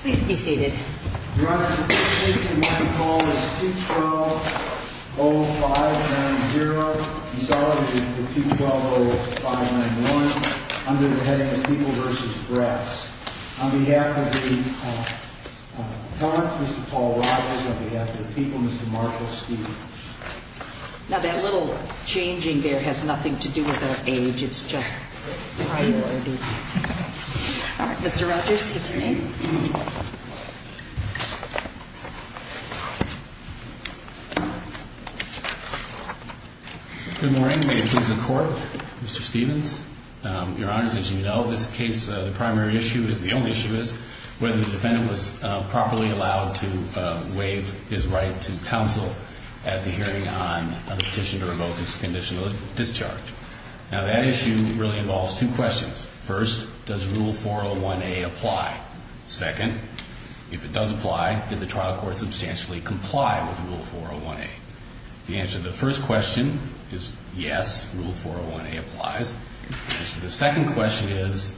Please be seated. Your Honor, today's case in my call is 220590, resolving to 220591, under the heading of People v. Brass. On behalf of the parents, Mr. Paul Rogers, on behalf of the people, Mr. Marcus Stevens. Now that little changing there has nothing to do with our age, it's just priority. All right, Mr. Rogers, take your seat. Good morning, may it please the Court. Mr. Stevens, Your Honor, as you know, this case, the primary issue is, the only issue is, whether the defendant was properly allowed to waive his right to counsel at the hearing on a petition to revoke his conditional discharge. Now that issue really involves two questions. First, does Rule 401A apply? Second, if it does apply, did the trial court substantially comply with Rule 401A? The answer to the first question is yes, Rule 401A applies. The answer to the second question is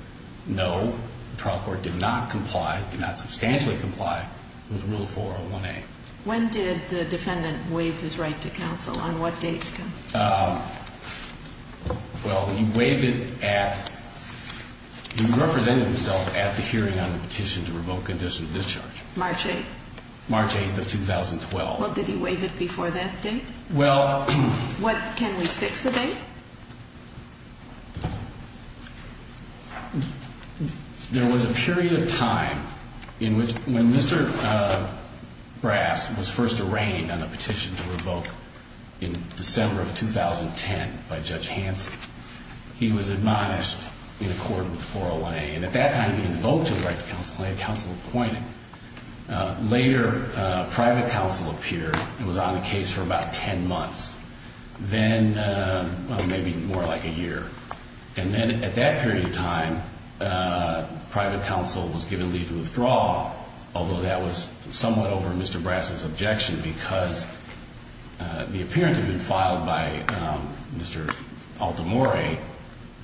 no, the trial court did not comply, did not substantially comply with Rule 401A. When did the defendant waive his right to counsel, on what date? Well, he waived it at, he represented himself at the hearing on the petition to revoke conditional discharge. March 8th. March 8th of 2012. Well, did he waive it before that date? Well. What, can we fix the date? There was a period of time in which, when Mr. Brass was first arraigned on the petition to revoke, in December of 2010, by Judge Hanson, he was admonished in accordance with 401A. And at that time, he didn't vote to have the right to counsel, he had counsel appointed. Later, private counsel appeared, and was on the case for about 10 months. Then, maybe more like a year. And then, at that period of time, private counsel was given leave to withdraw, although that was somewhat over Mr. Brass's objection, because the appearance had been filed by Mr. Altamore,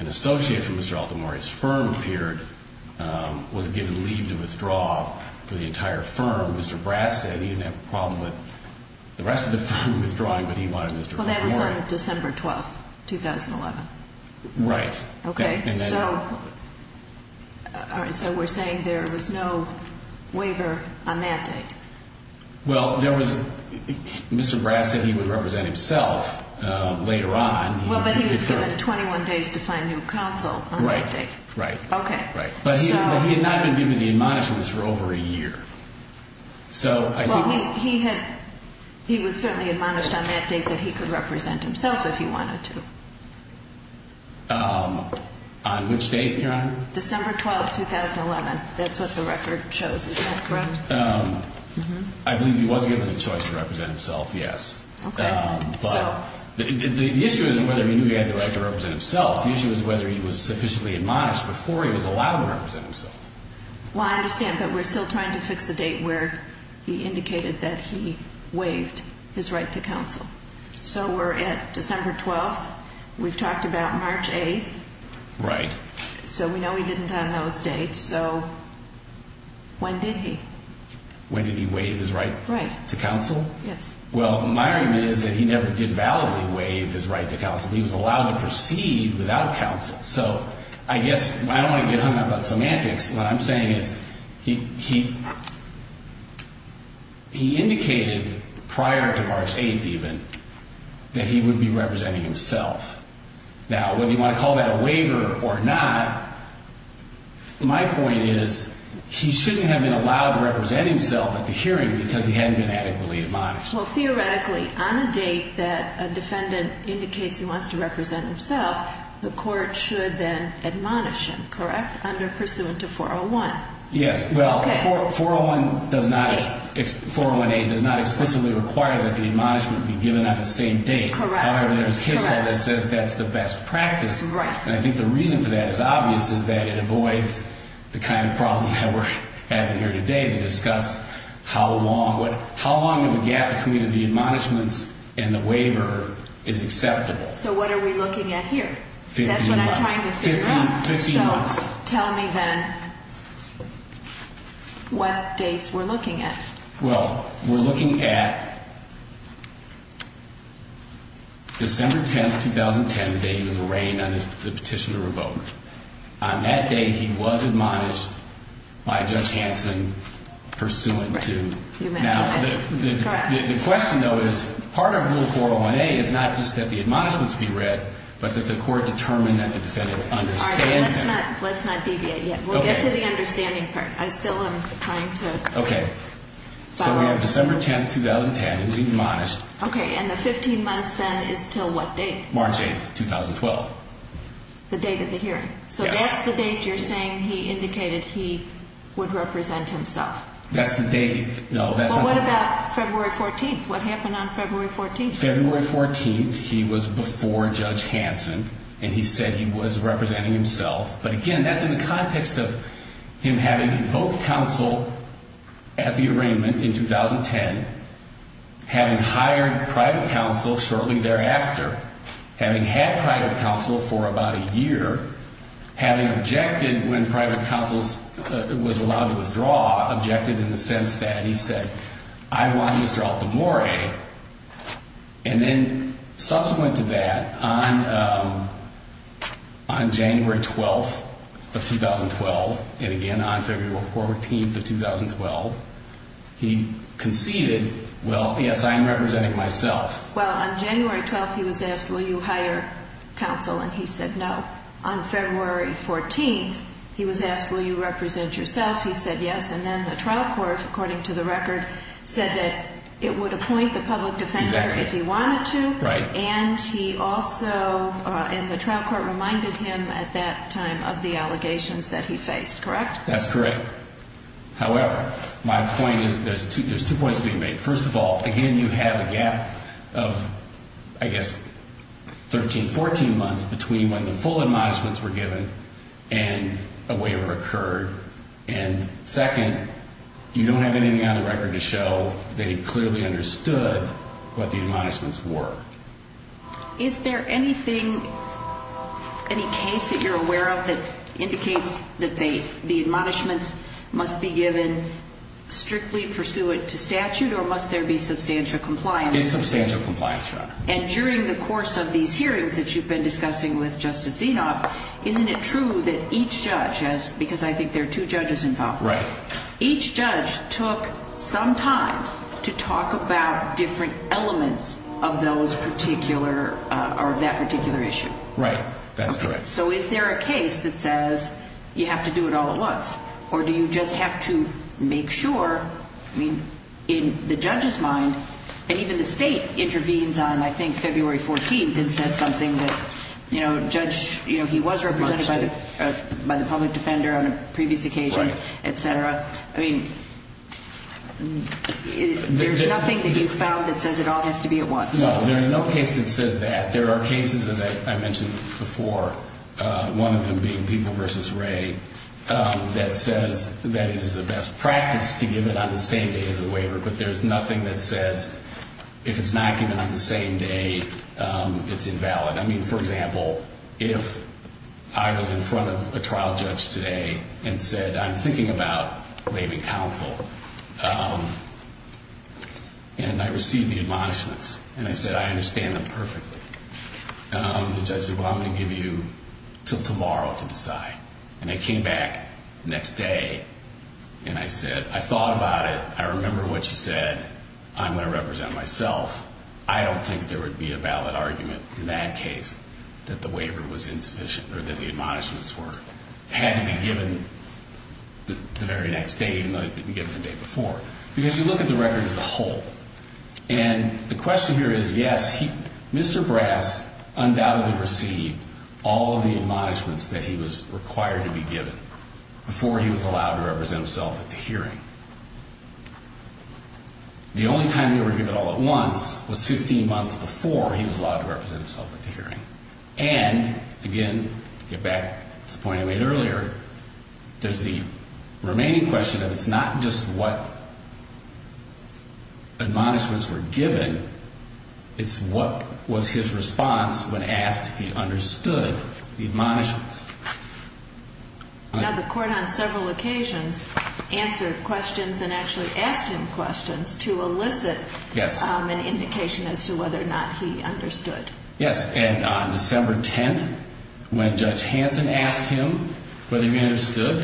an associate from Mr. Altamore's firm appeared, was given leave to withdraw for the entire firm. Mr. Brass said he didn't have a problem with the rest of the firm withdrawing, but he wanted Mr. Altamore. Well, that was on December 12, 2011. Right. Okay, so we're saying there was no waiver on that date. Well, Mr. Brass said he would represent himself later on. Well, but he was given 21 days to find new counsel on that date. Right, right. Okay. But he had not been given the admonishments for over a year. Well, he was certainly admonished on that date that he could represent himself if he wanted to. On which date, Your Honor? December 12, 2011. That's what the record shows. Is that correct? I believe he was given the choice to represent himself, yes. Okay. But the issue isn't whether he knew he had the right to represent himself. The issue is whether he was sufficiently admonished before he was allowed to represent himself. Well, I understand, but we're still trying to fix the date where he indicated that he waived his right to counsel. So we're at December 12th. We've talked about March 8th. Right. So we know he didn't on those dates. So when did he? When did he waive his right to counsel? Right. Yes. Well, my argument is that he never did validly waive his right to counsel. He was allowed to proceed without counsel. So I guess I don't want to get hung up on semantics. What I'm saying is he indicated prior to March 8th, even, that he would be representing himself. Now, whether you want to call that a waiver or not, my point is he shouldn't have been allowed to represent himself at the hearing because he hadn't been adequately admonished. Well, theoretically, on a date that a defendant indicates he wants to represent himself, the court should then admonish him, correct, under pursuant to 401? Yes. Well, 401A does not explicitly require that the admonishment be given on the same date. Correct. However, there is case law that says that's the best practice. Right. And I think the reason for that is obvious is that it avoids the kind of problem that we're having here today to discuss how long of a gap between the admonishments and the waiver is acceptable. So what are we looking at here? Fifteen months. That's what I'm trying to figure out. Fifteen months. So tell me then what dates we're looking at. Well, we're looking at December 10th, 2010, the day he was arraigned on the petition to revoke. On that day, he was admonished by Judge Hanson pursuant to. Now, the question, though, is part of Rule 401A is not just that the admonishments be read but that the court determine that the defendant understands. All right. Let's not deviate yet. We'll get to the understanding part. I still am trying to. Okay. So we have December 10th, 2010. He was admonished. Okay. And the 15 months then is till what date? March 8th, 2012. The date of the hearing. Yes. So that's the date you're saying he indicated he would represent himself. That's the date. No, that's not. Well, what about February 14th? What happened on February 14th? February 14th, he was before Judge Hanson, and he said he was representing himself. But, again, that's in the context of him having invoked counsel at the arraignment in 2010, having hired private counsel shortly thereafter, having had private counsel for about a year, having objected when private counsel was allowed to withdraw, objected in the sense that he said, I want Mr. Altamore. And then subsequent to that, on January 12th of 2012, and again on February 14th of 2012, he conceded, well, yes, I am representing myself. Well, on January 12th, he was asked, will you hire counsel? And he said no. On February 14th, he was asked, will you represent yourself? He said yes. And then the trial court, according to the record, said that it would appoint the public defender if he wanted to. And he also, and the trial court reminded him at that time of the allegations that he faced, correct? That's correct. However, my point is there's two points being made. First of all, again, you have a gap of, I guess, 13, 14 months between when the full admonishments were given and a waiver occurred. And second, you don't have anything on the record to show that he clearly understood what the admonishments were. Is there anything, any case that you're aware of that indicates that the admonishments must be given strictly pursuant to statute, or must there be substantial compliance? It's substantial compliance, Your Honor. And during the course of these hearings that you've been discussing with Justice Zinoff, isn't it true that each judge has, because I think there are two judges involved. Right. Each judge took some time to talk about different elements of those particular, or of that particular issue. Right, that's correct. So is there a case that says you have to do it all at once, or do you just have to make sure, I mean, in the judge's mind, and even the state intervenes on, I think, February 14th and says something that, you know, judge, you know, he was represented by the public defender on a previous occasion, etc. I mean, there's nothing that you've found that says it all has to be at once? No, there's no case that says that. There are cases, as I mentioned before, one of them being People v. Wray, that says that it is the best practice to give it on the same day as the waiver, but there's nothing that says if it's not given on the same day, it's invalid. I mean, for example, if I was in front of a trial judge today and said, I'm thinking about waiving counsel, and I received the admonishments, and I said, I understand them perfectly, the judge said, well, I'm going to give you until tomorrow to decide. And I came back the next day, and I said, I thought about it. I remember what you said. I'm going to represent myself. I don't think there would be a valid argument in that case that the waiver was insufficient or that the admonishments had to be given the very next day, even though it had been given the day before, because you look at the record as a whole. And the question here is, yes, Mr. Brass undoubtedly received all of the admonishments that he was required to be given before he was allowed to represent himself at the hearing. The only time he was given all at once was 15 months before he was allowed to represent himself at the hearing. And, again, to get back to the point I made earlier, there's the remaining question of it's not just what admonishments were given, it's what was his response when asked if he understood the admonishments. Now, the court on several occasions answered questions and actually asked him questions to elicit an indication as to whether or not he understood. Yes. And on December 10th, when Judge Hanson asked him whether he understood,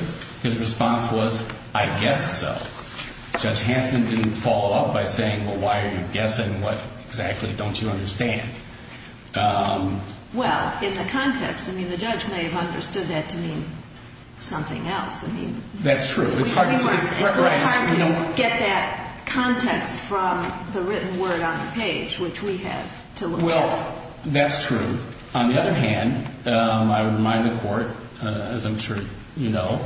his response was, I guess so. Judge Hanson didn't follow up by saying, well, why are you guessing? What exactly don't you understand? Well, in the context, I mean, the judge may have understood that to mean something else. I mean, that's true. It's hard to get that context from the written word on the page, which we have to look at. Well, that's true. On the other hand, I would remind the court, as I'm sure you know,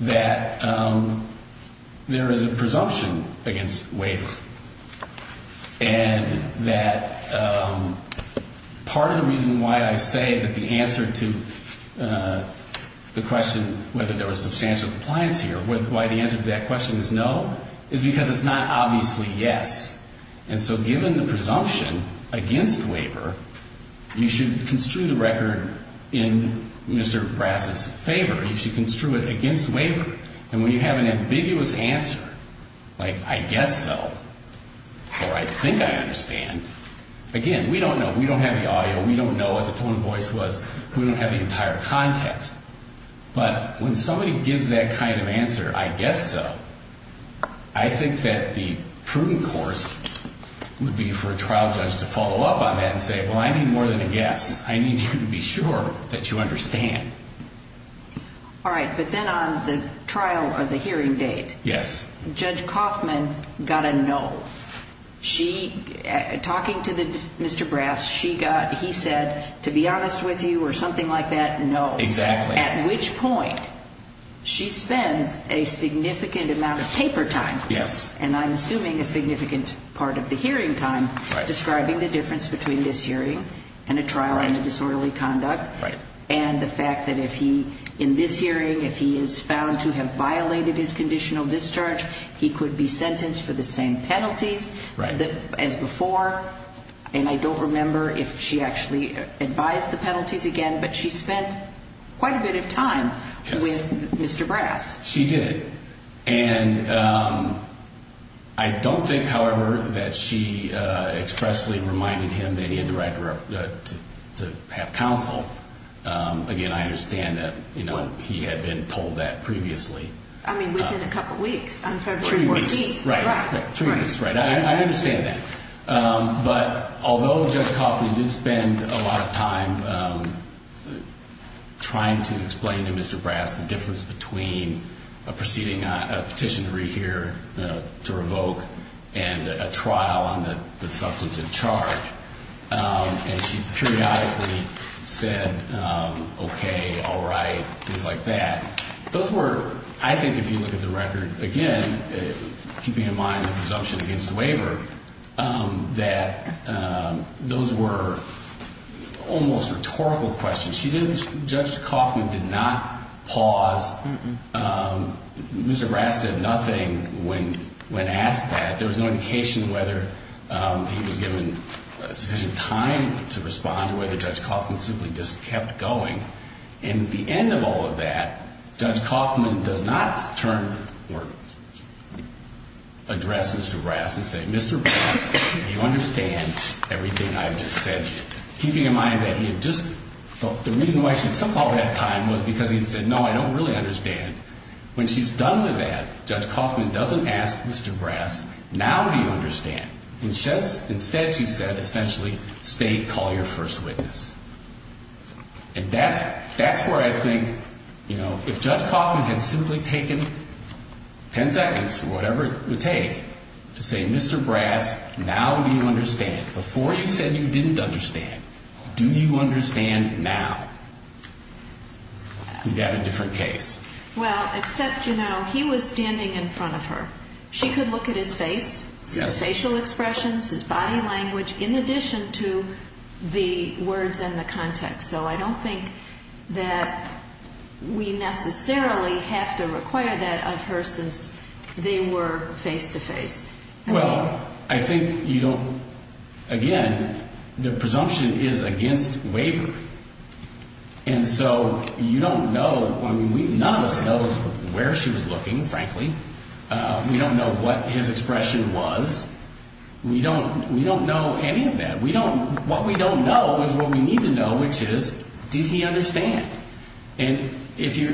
that there is a presumption against waiver, and that part of the reason why I say that the answer to the question whether there was substantial compliance here, why the answer to that question is no, is because it's not obviously yes. And so given the presumption against waiver, you should construe the record in Mr. Brass's favor. You should construe it against waiver. And when you have an ambiguous answer, like I guess so, or I think I understand, again, we don't know. We don't have the audio. We don't know what the tone of voice was. We don't have the entire context. But when somebody gives that kind of answer, I guess so, I think that the prudent course would be for a trial judge to follow up on that and say, well, I need more than a guess. I need you to be sure that you understand. All right, but then on the trial or the hearing date, Judge Kaufman got a no. Talking to Mr. Brass, he said, to be honest with you, or something like that, no. Exactly. At which point she spends a significant amount of paper time, and I'm assuming a significant part of the hearing time, describing the difference between this hearing and a trial under disorderly conduct and the fact that if he, in this hearing, if he is found to have violated his conditional discharge, he could be sentenced for the same penalties as before. And I don't remember if she actually advised the penalties again, but she spent quite a bit of time with Mr. Brass. She did. And I don't think, however, that she expressly reminded him that he had the right to have counsel. Again, I understand that he had been told that previously. I mean, within a couple weeks, on February 14th. Three weeks, right. Three weeks, right. I understand that. But although Judge Kaufman did spend a lot of time trying to explain to Mr. Brass the difference between a petition to rehear, to revoke, and a trial on the substantive charge, and she periodically said, okay, all right, things like that. Those were, I think if you look at the record, again, keeping in mind the presumption against the waiver, that those were almost rhetorical questions. She didn't, Judge Kaufman did not pause. Mr. Brass said nothing when asked that. There was no indication whether he was given sufficient time to respond or whether Judge Kaufman simply just kept going. And at the end of all of that, Judge Kaufman does not turn or address Mr. Brass and say, Mr. Brass, do you understand everything I've just said? Keeping in mind that he had just, the reason why she took all that time was because he had said, no, I don't really understand. When she's done with that, Judge Kaufman doesn't ask Mr. Brass, now do you understand? Instead, she said, essentially, stay, call your first witness. And that's where I think, you know, if Judge Kaufman had simply taken ten seconds, whatever it would take, to say, Mr. Brass, now do you understand? Before you said you didn't understand. Do you understand now? You'd have a different case. Well, except, you know, he was standing in front of her. She could look at his face, his facial expressions, his body language, in addition to the words and the context. So I don't think that we necessarily have to require that of her since they were face-to-face. Well, I think you don't, again, the presumption is against wavering. And so you don't know, I mean, none of us knows where she was looking, frankly. We don't know what his expression was. We don't know any of that. What we don't know is what we need to know, which is, did he understand? And if you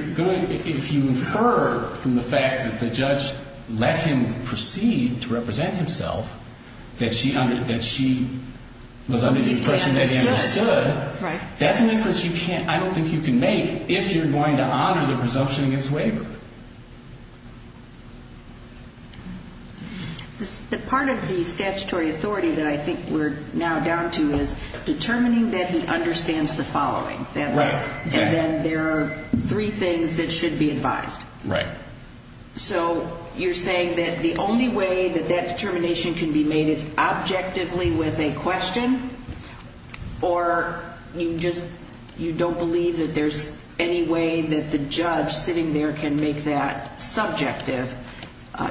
infer from the fact that the judge let him proceed to represent himself, that she was under the impression that he understood, that's an inference I don't think you can make if you're going to honor the presumption against wavering. The part of the statutory authority that I think we're now down to is determining that he understands the following. Right. And then there are three things that should be advised. Right. So you're saying that the only way that that determination can be made is objectively with a question, or you just don't believe that there's any way that the judge sitting there can make that subjective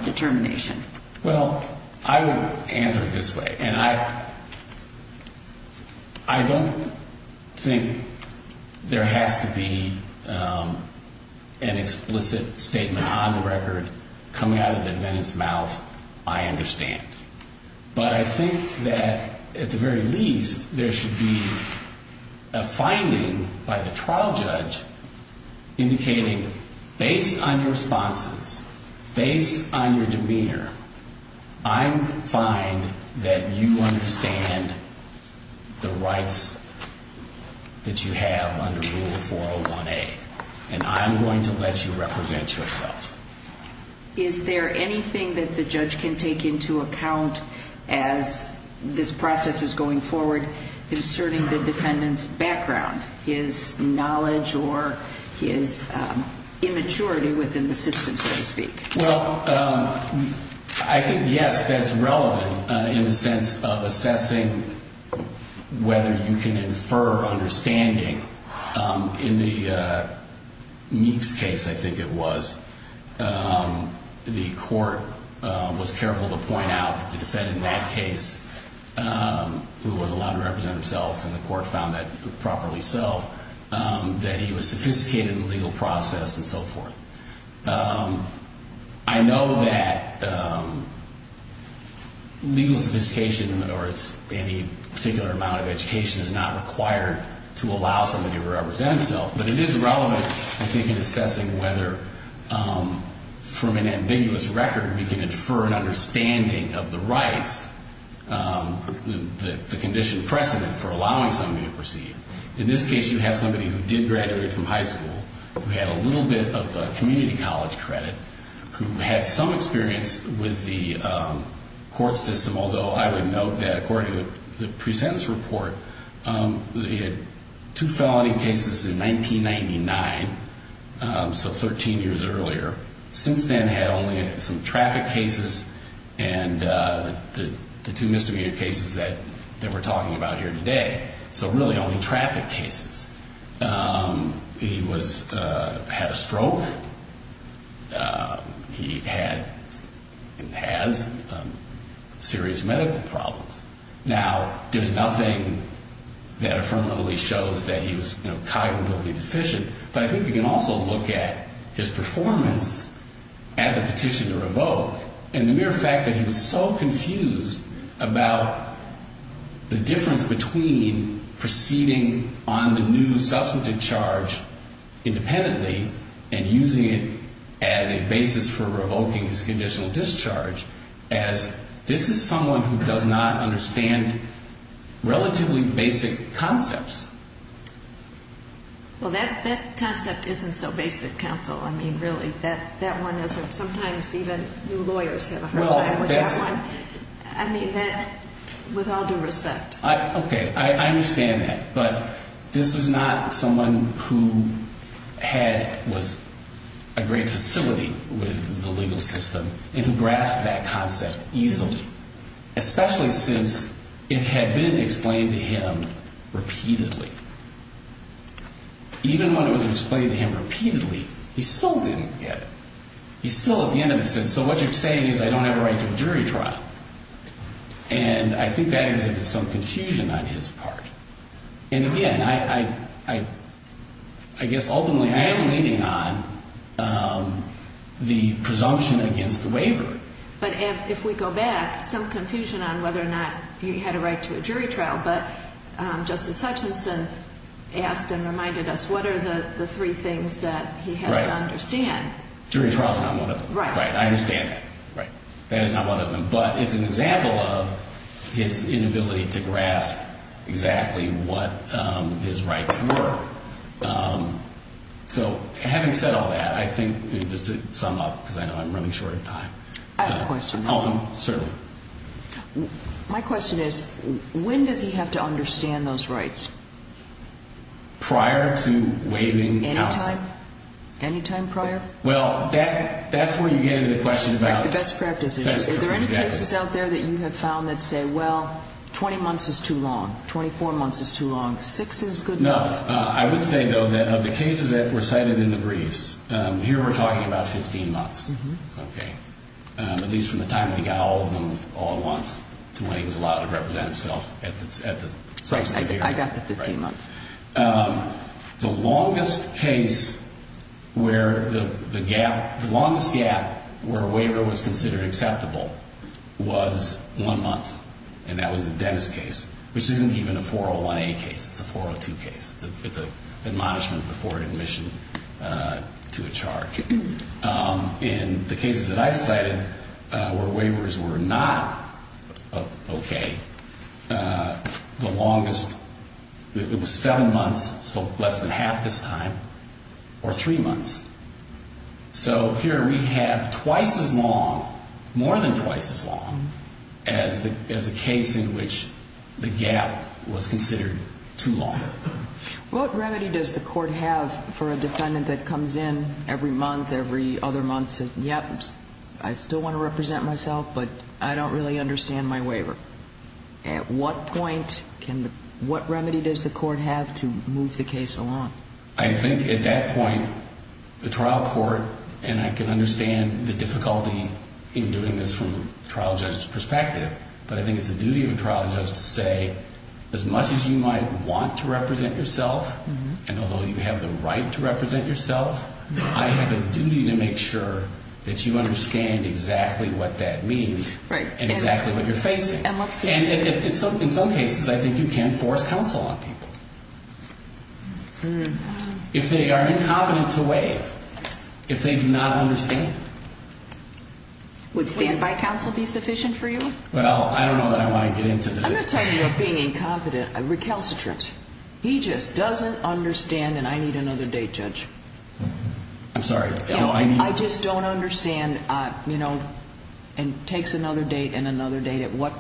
determination? Well, I would answer it this way, and I don't think there has to be an explicit statement on the record coming out of the defendant's mouth, I understand. But I think that, at the very least, there should be a finding by the trial judge indicating, based on your responses, based on your demeanor, I find that you understand the rights that you have under Rule 401A, and I'm going to let you represent yourself. Is there anything that the judge can take into account as this process is going forward concerning the defendant's background, his knowledge or his immaturity within the system, so to speak? Well, I think, yes, that's relevant in the sense of assessing whether you can infer understanding. In the Meeks case, I think it was, the court was careful to point out that the defendant in that case, who was allowed to represent himself, and the court found that properly so, that he was sophisticated in the legal process and so forth. I know that legal sophistication or any particular amount of education is not required to allow somebody to represent himself, but it is relevant, I think, in assessing whether, from an ambiguous record, we can infer an understanding of the rights, the condition precedent for allowing somebody to proceed. In this case, you have somebody who did graduate from high school, who had a little bit of community college credit, who had some experience with the court system, although I would note that according to the presentence report, they had two felony cases in 1999, so 13 years earlier. Since then, had only some traffic cases and the two misdemeanor cases that we're talking about here today. So really only traffic cases. He was, had a stroke. He had and has serious medical problems. Now, there's nothing that affirmatively shows that he was cognitively deficient, but I think you can also look at his performance at the petition to revoke, and the mere fact that he was so confused about the difference between proceeding on the new substantive charge independently and using it as a basis for revoking his conditional discharge, as this is someone who does not understand relatively basic concepts. Well, that concept isn't so basic, counsel. I mean, really, that one isn't. Sometimes even new lawyers have a hard time with that one. I mean, that, with all due respect. Okay. I understand that, but this was not someone who had, was a great facility with the legal system and who grasped that concept easily, especially since it had been explained to him repeatedly. Even when it was explained to him repeatedly, he still didn't get it. He still at the end of it said, so what you're saying is I don't have a right to a jury trial. And I think that is some confusion on his part. And again, I guess ultimately I am leaning on the presumption against the waiver. But if we go back, some confusion on whether or not he had a right to a jury trial. But Justice Hutchinson asked and reminded us what are the three things that he has to understand. Jury trial is not one of them. I understand that. That is not one of them. But it's an example of his inability to grasp exactly what his rights were. So having said all that, I think just to sum up, because I know I'm running short of time. I have a question. Certainly. My question is, when does he have to understand those rights? Prior to waiving counsel. Any time prior? Well, that's where you get into the question about the best practices. Is there any cases out there that you have found that say, well, 20 months is too long, 24 months is too long, six is good enough. I would say, though, that of the cases that were cited in the briefs, here we're talking about 15 months. At least from the time he got all of them all at once to when he was allowed to represent himself. I got the 15 months. The longest case where the gap, the longest gap where a waiver was considered acceptable was one month. And that was the Dennis case, which isn't even a 401A case. It's a 402 case. It's an admonishment before admission to a charge. In the cases that I cited where waivers were not okay, the longest, it was 16 months. Seven months, so less than half this time, or three months. So here we have twice as long, more than twice as long, as a case in which the gap was considered too long. What remedy does the court have for a defendant that comes in every month, every other month and says, yep, I still want to represent myself, but I don't really understand my waiver? At what point, what remedy does the court have to move the case along? I think at that point, the trial court, and I can understand the difficulty in doing this from the trial judge's perspective, but I think it's the duty of a trial judge to say, as much as you might want to represent yourself, and although you have the right to represent yourself, I have a duty to make sure that you understand exactly what that means and exactly what you're facing. And in some cases, I think you can force counsel on people. If they are incompetent to waive, if they do not understand. Would standby counsel be sufficient for you? Well, I don't know that I want to get into that. I'm going to tell you, being incompetent, recalcitrant. He just doesn't understand, and I need another date, Judge. I'm sorry. I just don't understand, and takes another date and another date. At what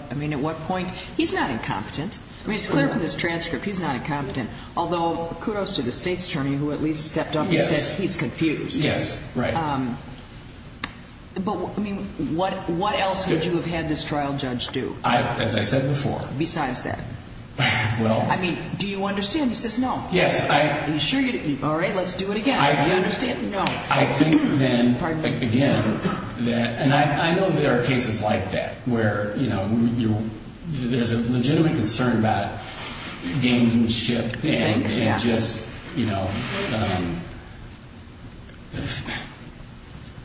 point, he's not incompetent. It's clear from this transcript, he's not incompetent. Although, kudos to the state's attorney who at least stepped up and said he's confused. Yes, right. But what else would you have had this trial judge do? As I said before. Besides that. Well. I mean, do you understand? He says no. Yes, I. Are you sure? All right, let's do it again. Do you understand? No. I think then, again, and I know there are cases like that where, you know, there's a legitimate concern about gamesmanship and just, you know,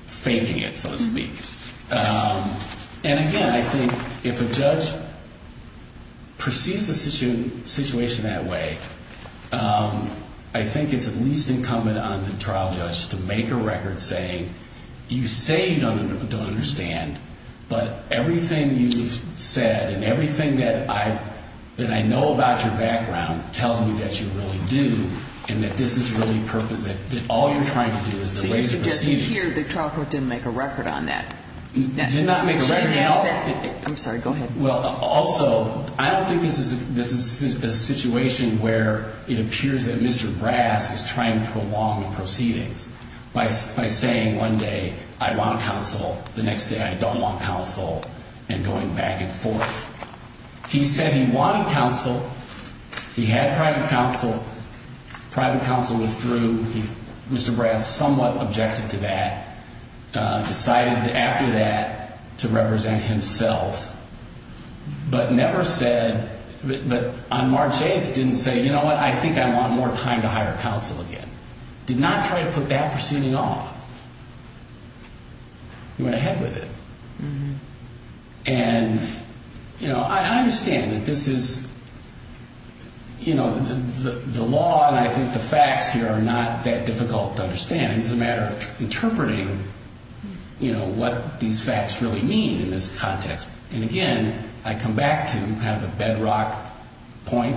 faking it, so to speak. And again, I think if a judge perceives the situation that way, I think it's at least incumbent on the trial judge to make a record saying, you say you don't understand, but everything you've said and everything that I know about your background tells me that you really do, and that this is really perfect, that all you're trying to do is erase the proceedings. Here, the trial court didn't make a record on that. Did not make a record. I'm sorry, go ahead. Also, I don't think this is a situation where it appears that Mr. Brass is trying to prolong the proceedings by saying one day I want counsel, the next day I don't want counsel, and going back and forth. He said he wanted counsel. He had private counsel. Private counsel withdrew. Mr. Brass somewhat objected to that, decided after that to represent himself, but never said, but on March 8th didn't say, you know what, I think I want more time to hire counsel again. Did not try to put that proceeding off. He went ahead with it. And, you know, I understand that this is, you know, the law and I think the facts here are not that difficult to understand. It's a matter of interpreting, you know, what these facts really mean in this context. And, again, I come back to kind of a bedrock point,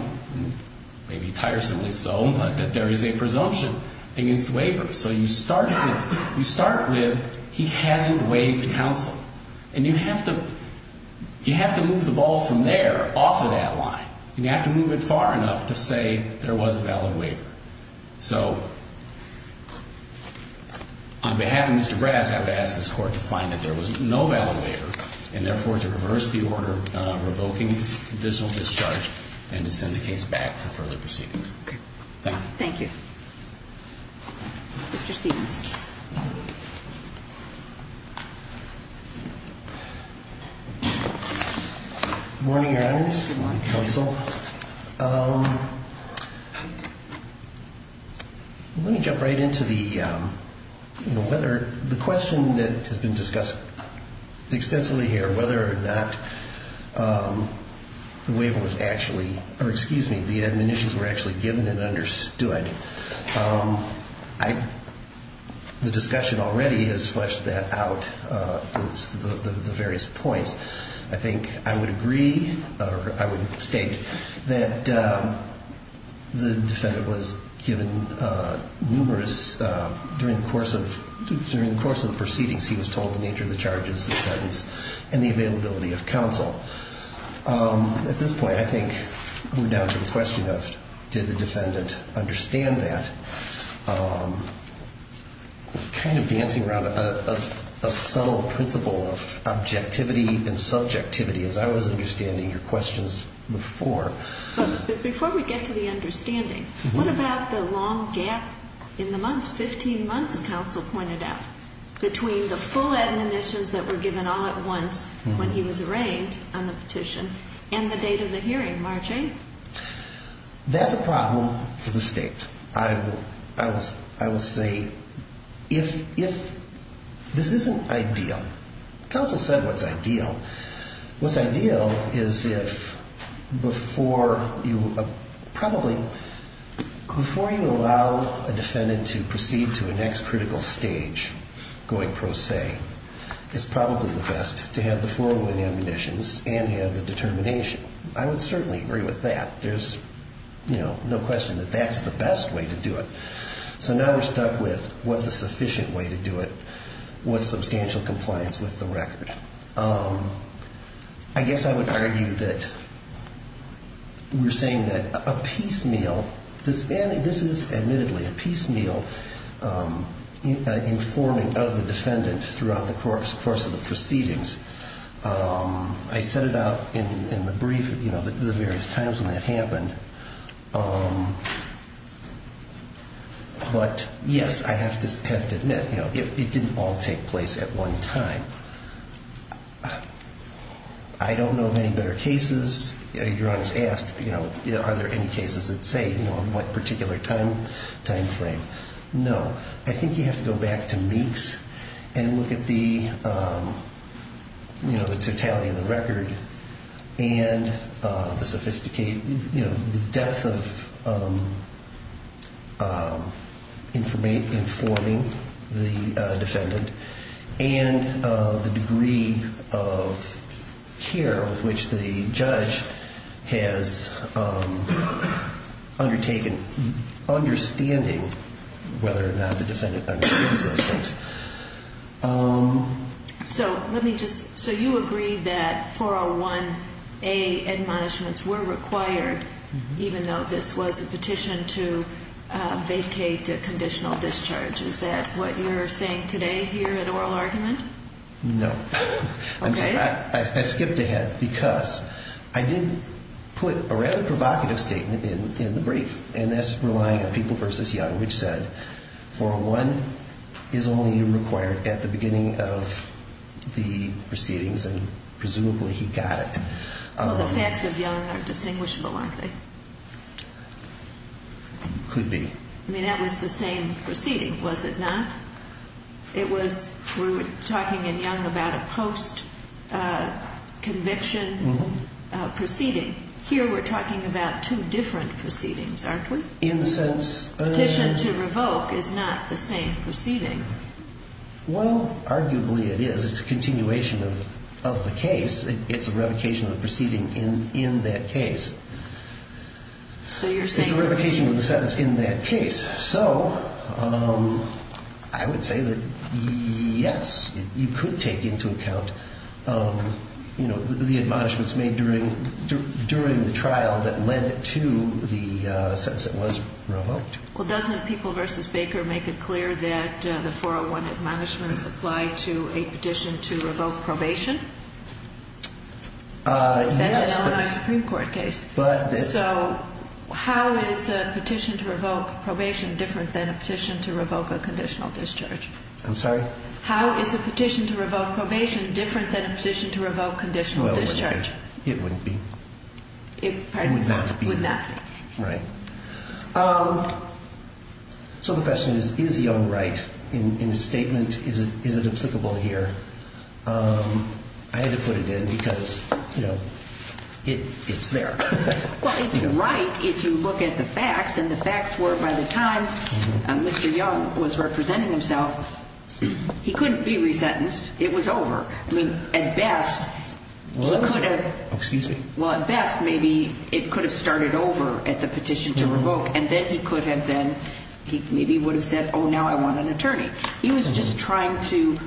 maybe tiresomely so, but that there is a presumption against waiver. So you start with he hasn't waived counsel. And you have to move the ball from there off of that line. And you have to move it far enough to say there was a valid waiver. So on behalf of Mr. Brass, I would ask this Court to find that there was no valid waiver and, therefore, to reverse the order revoking this additional discharge and to send the case back for further proceedings. Thank you. Thank you. Mr. Stevens. Good morning, Your Honors. Good morning, Counsel. Let me jump right into the, you know, whether the question that has been discussed extensively here, whether or not the waiver was actually, or excuse me, whether the admonitions were actually given and understood. The discussion already has fleshed that out, the various points. I think I would agree, or I would state, that the defendant was given numerous, during the course of the proceedings, he was told the nature of the charges, the sentence, and the availability of counsel. At this point, I think we're down to the question of did the defendant understand that? Kind of dancing around a subtle principle of objectivity and subjectivity, as I was understanding your questions before. But before we get to the understanding, what about the long gap in the months, 15 months, counsel pointed out, between the full admonitions that were given all at once when he was arraigned, on the petition, and the date of the hearing, March 8th? That's a problem for the state. I will say, if, this isn't ideal. Counsel said what's ideal. What's ideal is if, before you allow a defendant to proceed to a next critical stage, going pro se, it's probably the best to have the full admonitions and have the determination. I would certainly agree with that. There's no question that that's the best way to do it. So now we're stuck with what's a sufficient way to do it, what's substantial compliance with the record. I guess I would argue that we're saying that a piecemeal, this is admittedly a piecemeal informing of the defendant throughout the course of the proceedings. I set it out in the brief, you know, the various times when that happened. But, yes, I have to admit, you know, it didn't all take place at one time. I don't know of any better cases. Your Honor's asked, you know, are there any cases that say, you know, on what particular time frame? No. I think you have to go back to Meeks and look at the, you know, the totality of the record and the sophisticated, you know, the depth of informing the defendant. And the degree of care with which the judge has undertaken, understanding whether or not the defendant understands those things. So let me just, so you agree that 401A admonishments were required, even though this was a petition to vacate a conditional discharge. Is that what you're saying today here in oral argument? No. Okay. I skipped ahead because I did put a rather provocative statement in the brief, and that's relying on People v. Young, which said 401 is only required at the beginning of the proceedings, and presumably he got it. Well, the facts of Young are distinguishable, aren't they? Could be. I mean, that was the same proceeding, was it not? It was, we were talking in Young about a post-conviction proceeding. Here we're talking about two different proceedings, aren't we? In the sense of? Petition to revoke is not the same proceeding. Well, arguably it is. It's a continuation of the case. It's a revocation of the proceeding in that case. So you're saying? It's a revocation of the sentence in that case. So I would say that, yes, you could take into account, you know, the admonishments made during the trial that led to the sentence that was revoked. Well, doesn't People v. Baker make it clear that the 401 admonishments apply to a petition to revoke probation? Yes. That's an Illinois Supreme Court case. So how is a petition to revoke probation different than a petition to revoke a conditional discharge? I'm sorry? How is a petition to revoke probation different than a petition to revoke conditional discharge? Well, it wouldn't be. It wouldn't be. It, pardon me? It would not be. Would not be. Right. So the question is, is Young right in his statement? Is it applicable here? I had to put it in because, you know, it's there. Well, it's right if you look at the facts. And the facts were by the times Mr. Young was representing himself, he couldn't be resentenced. It was over. I mean, at best, he could have. Excuse me? Well, at best, maybe it could have started over at the petition to revoke. And then he could have then, he maybe would have said, oh, now I want an attorney. He was just trying to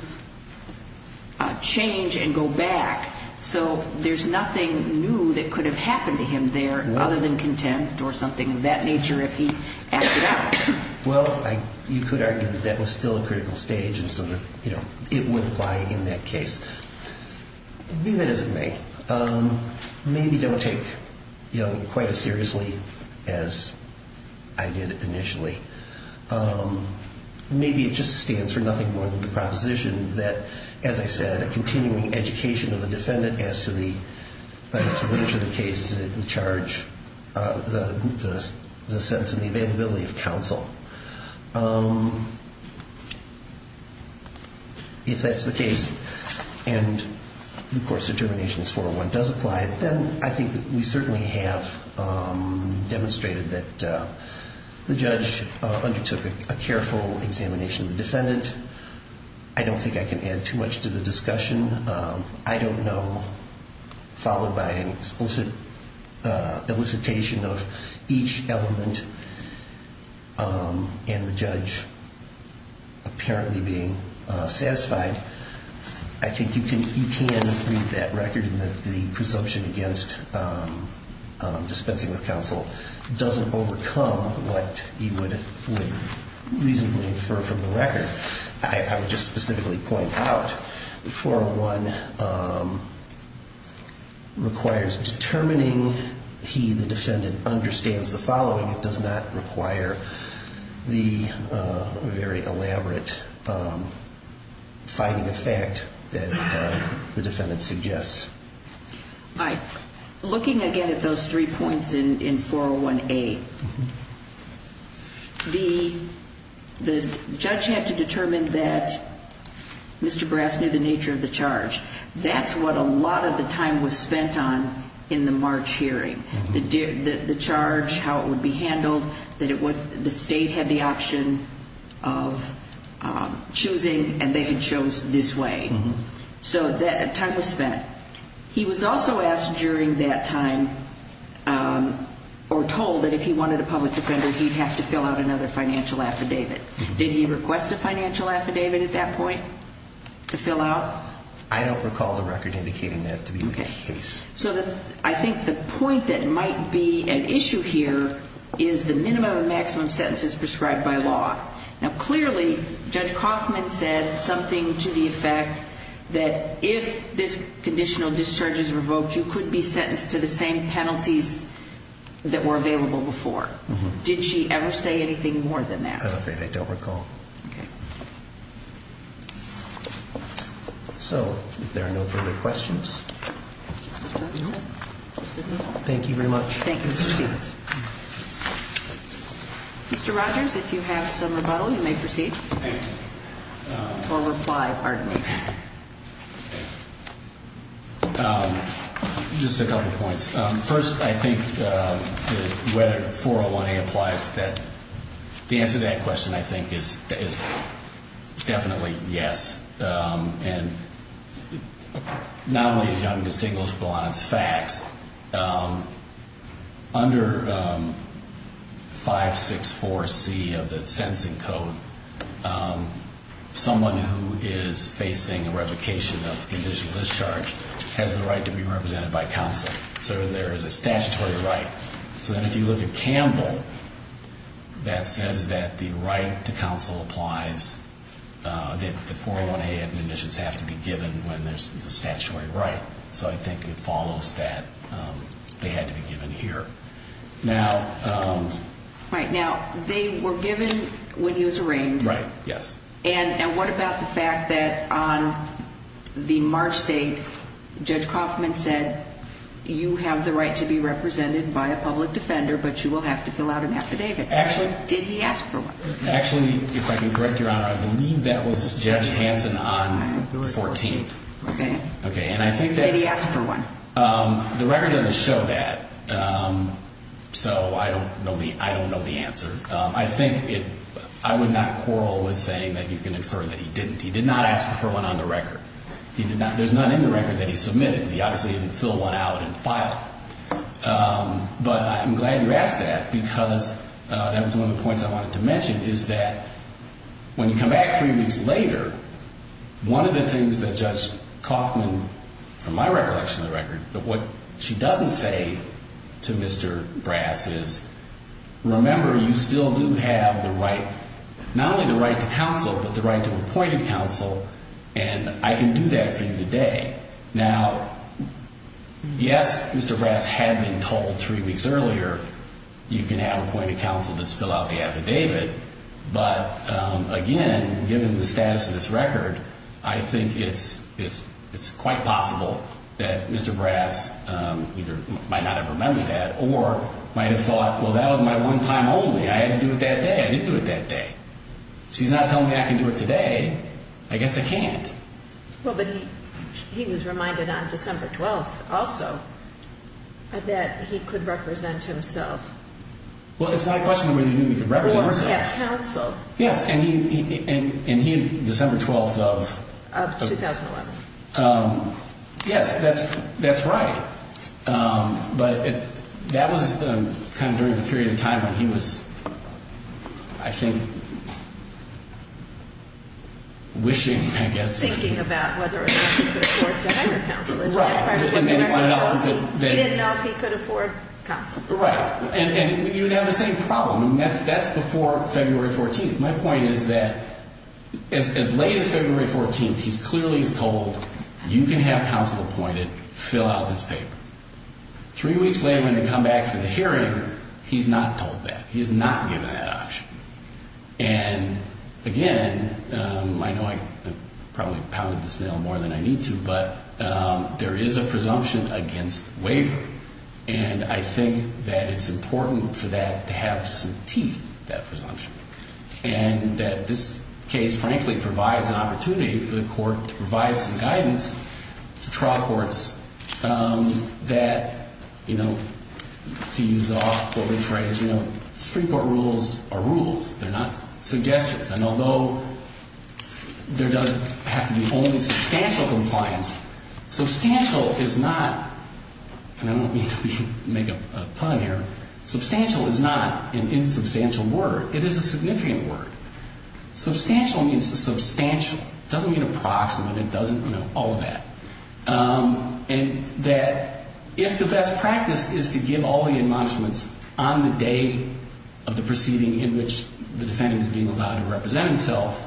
change and go back. So there's nothing new that could have happened to him there other than contempt or something of that nature if he acted out. Well, you could argue that that was still a critical stage and so that, you know, it wouldn't apply in that case. Be that as it may, maybe don't take Young quite as seriously as I did initially. Maybe it just stands for nothing more than the proposition that, as I said, a continuing education of the defendant as to the nature of the case, the charge, the sense and the availability of counsel. If that's the case. And, of course, Determinations 401 does apply. Then I think that we certainly have demonstrated that the judge undertook a careful examination of the defendant. I don't think I can add too much to the discussion. I don't know. Followed by an explicit elicitation of each element and the judge apparently being satisfied. I think you can read that record and that the presumption against dispensing with counsel doesn't overcome what you would reasonably infer from the record. I would just specifically point out that 401 requires determining he, the defendant, understands the following. It does not require the very elaborate finding of fact that the defendant suggests. Looking again at those three points in 401A, the judge had to determine that Mr. Brass knew the nature of the charge. That's what a lot of the time was spent on in the March hearing. The charge, how it would be handled, that the state had the option of choosing and they had chose this way. So that time was spent. He was also asked during that time or told that if he wanted a public defender, he'd have to fill out another financial affidavit. Did he request a financial affidavit at that point to fill out? I don't recall the record indicating that to be the case. So I think the point that might be an issue here is the minimum and maximum sentences prescribed by law. Now, clearly, Judge Kaufman said something to the effect that if this conditional discharge is revoked, you could be sentenced to the same penalties that were available before. Did she ever say anything more than that? I'm afraid I don't recall. Okay. So if there are no further questions. Thank you very much. Thank you, Mr. Stevens. Mr. Rogers, if you have some rebuttal, you may proceed. Thank you. Or reply, pardon me. Just a couple points. First, I think whether 401A applies, the answer to that question, I think, is definitely yes. And not only is it undistinguishable on its facts, under 564C of the sentencing code, someone who is facing a revocation of conditional discharge has the right to be represented by counsel. So there is a statutory right. So then if you look at Campbell, that says that the right to counsel applies, that the 401A administrations have to be given when there's a statutory right. So I think it follows that they had to be given here. Right. Now, they were given when he was arraigned. Right. Yes. And what about the fact that on the March date, Judge Kaufman said, you have the right to be represented by a public defender, but you will have to fill out an affidavit. Actually. Did he ask for one? Actually, if I can correct Your Honor, I believe that was Judge Hanson on the 14th. Okay. Okay, and I think that's Did he ask for one? The record doesn't show that. So I don't know the answer. I think I would not quarrel with saying that you can infer that he didn't. He did not ask for one on the record. There's none in the record that he submitted. He obviously didn't fill one out and file it. But I'm glad you asked that because that was one of the points I wanted to mention, is that when you come back three weeks later, one of the things that Judge Kaufman, from my recollection of the record, that what she doesn't say to Mr. Brass is, remember, you still do have the right, not only the right to counsel, but the right to appointed counsel, and I can do that for you today. Now, yes, Mr. Brass had been told three weeks earlier you can have appointed counsel to fill out the affidavit. But, again, given the status of this record, I think it's quite possible that Mr. Brass either might not have remembered that or might have thought, well, that was my one time only. I had to do it that day. I didn't do it that day. So he's not telling me I can do it today. I guess I can't. Well, but he was reminded on December 12th also that he could represent himself. Well, it's not a question of whether he knew he could represent himself. Or have counsel. Yes, and he, December 12th of 2011. Yes, that's right. But that was kind of during the period of time when he was, I think, wishing, I guess. Thinking about whether or not he could afford to hire counsel. Right. He didn't know if he could afford counsel. Right. And you would have the same problem. I mean, that's before February 14th. My point is that as late as February 14th, he clearly is told, you can have counsel appointed. Fill out this paper. Three weeks later when they come back for the hearing, he's not told that. He is not given that option. And, again, I know I probably pounded this nail more than I need to. But there is a presumption against wavering. And I think that it's important for that to have some teeth, that presumption. And that this case, frankly, provides an opportunity for the court to provide some guidance to trial courts that, you know, to use the often quoted phrase, you know, Supreme Court rules are rules. They're not suggestions. And although there does have to be only substantial compliance, substantial is not, and I don't mean to make a pun here, substantial is not an insubstantial word. It is a significant word. Substantial means substantial. It doesn't mean approximate. It doesn't, you know, all of that. And that if the best practice is to give all the admonishments on the day of the proceeding in which the defendant is being allowed to represent himself,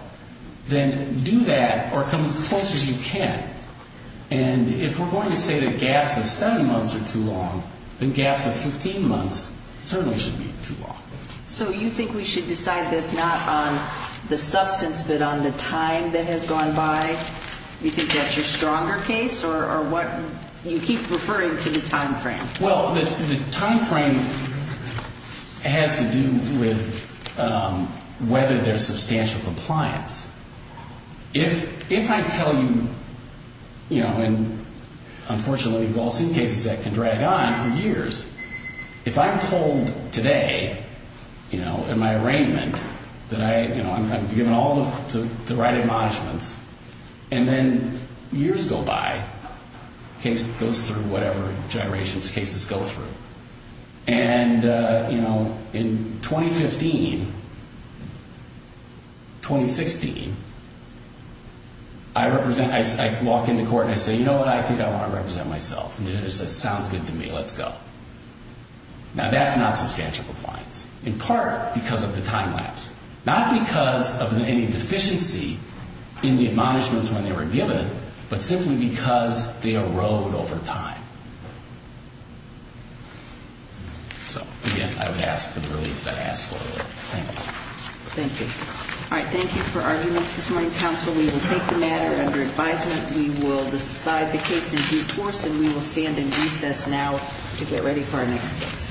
then do that or come as close as you can. And if we're going to say that gaps of seven months are too long, then gaps of 15 months certainly shouldn't be too long. So you think we should decide this not on the substance but on the time that has gone by? You think that's your stronger case or what? You keep referring to the time frame. Well, the time frame has to do with whether there's substantial compliance. If I tell you, you know, and unfortunately we've all seen cases that can drag on for years. If I'm told today, you know, in my arraignment that I, you know, I'm given all of the right admonishments and then years go by, the case goes through whatever generations cases go through. And, you know, in 2015, 2016, I represent, I walk into court and I say, you know what, I think I want to represent myself. And the judge says, sounds good to me, let's go. Now that's not substantial compliance. In part because of the time lapse. Not because of any deficiency in the admonishments when they were given, but simply because they erode over time. So, again, I would ask for the relief that I asked for earlier. Thank you. Thank you. All right, thank you for arguments this morning, counsel. We will take the matter under advisement. We will decide the case in due course and we will stand in recess now to get ready for our next case.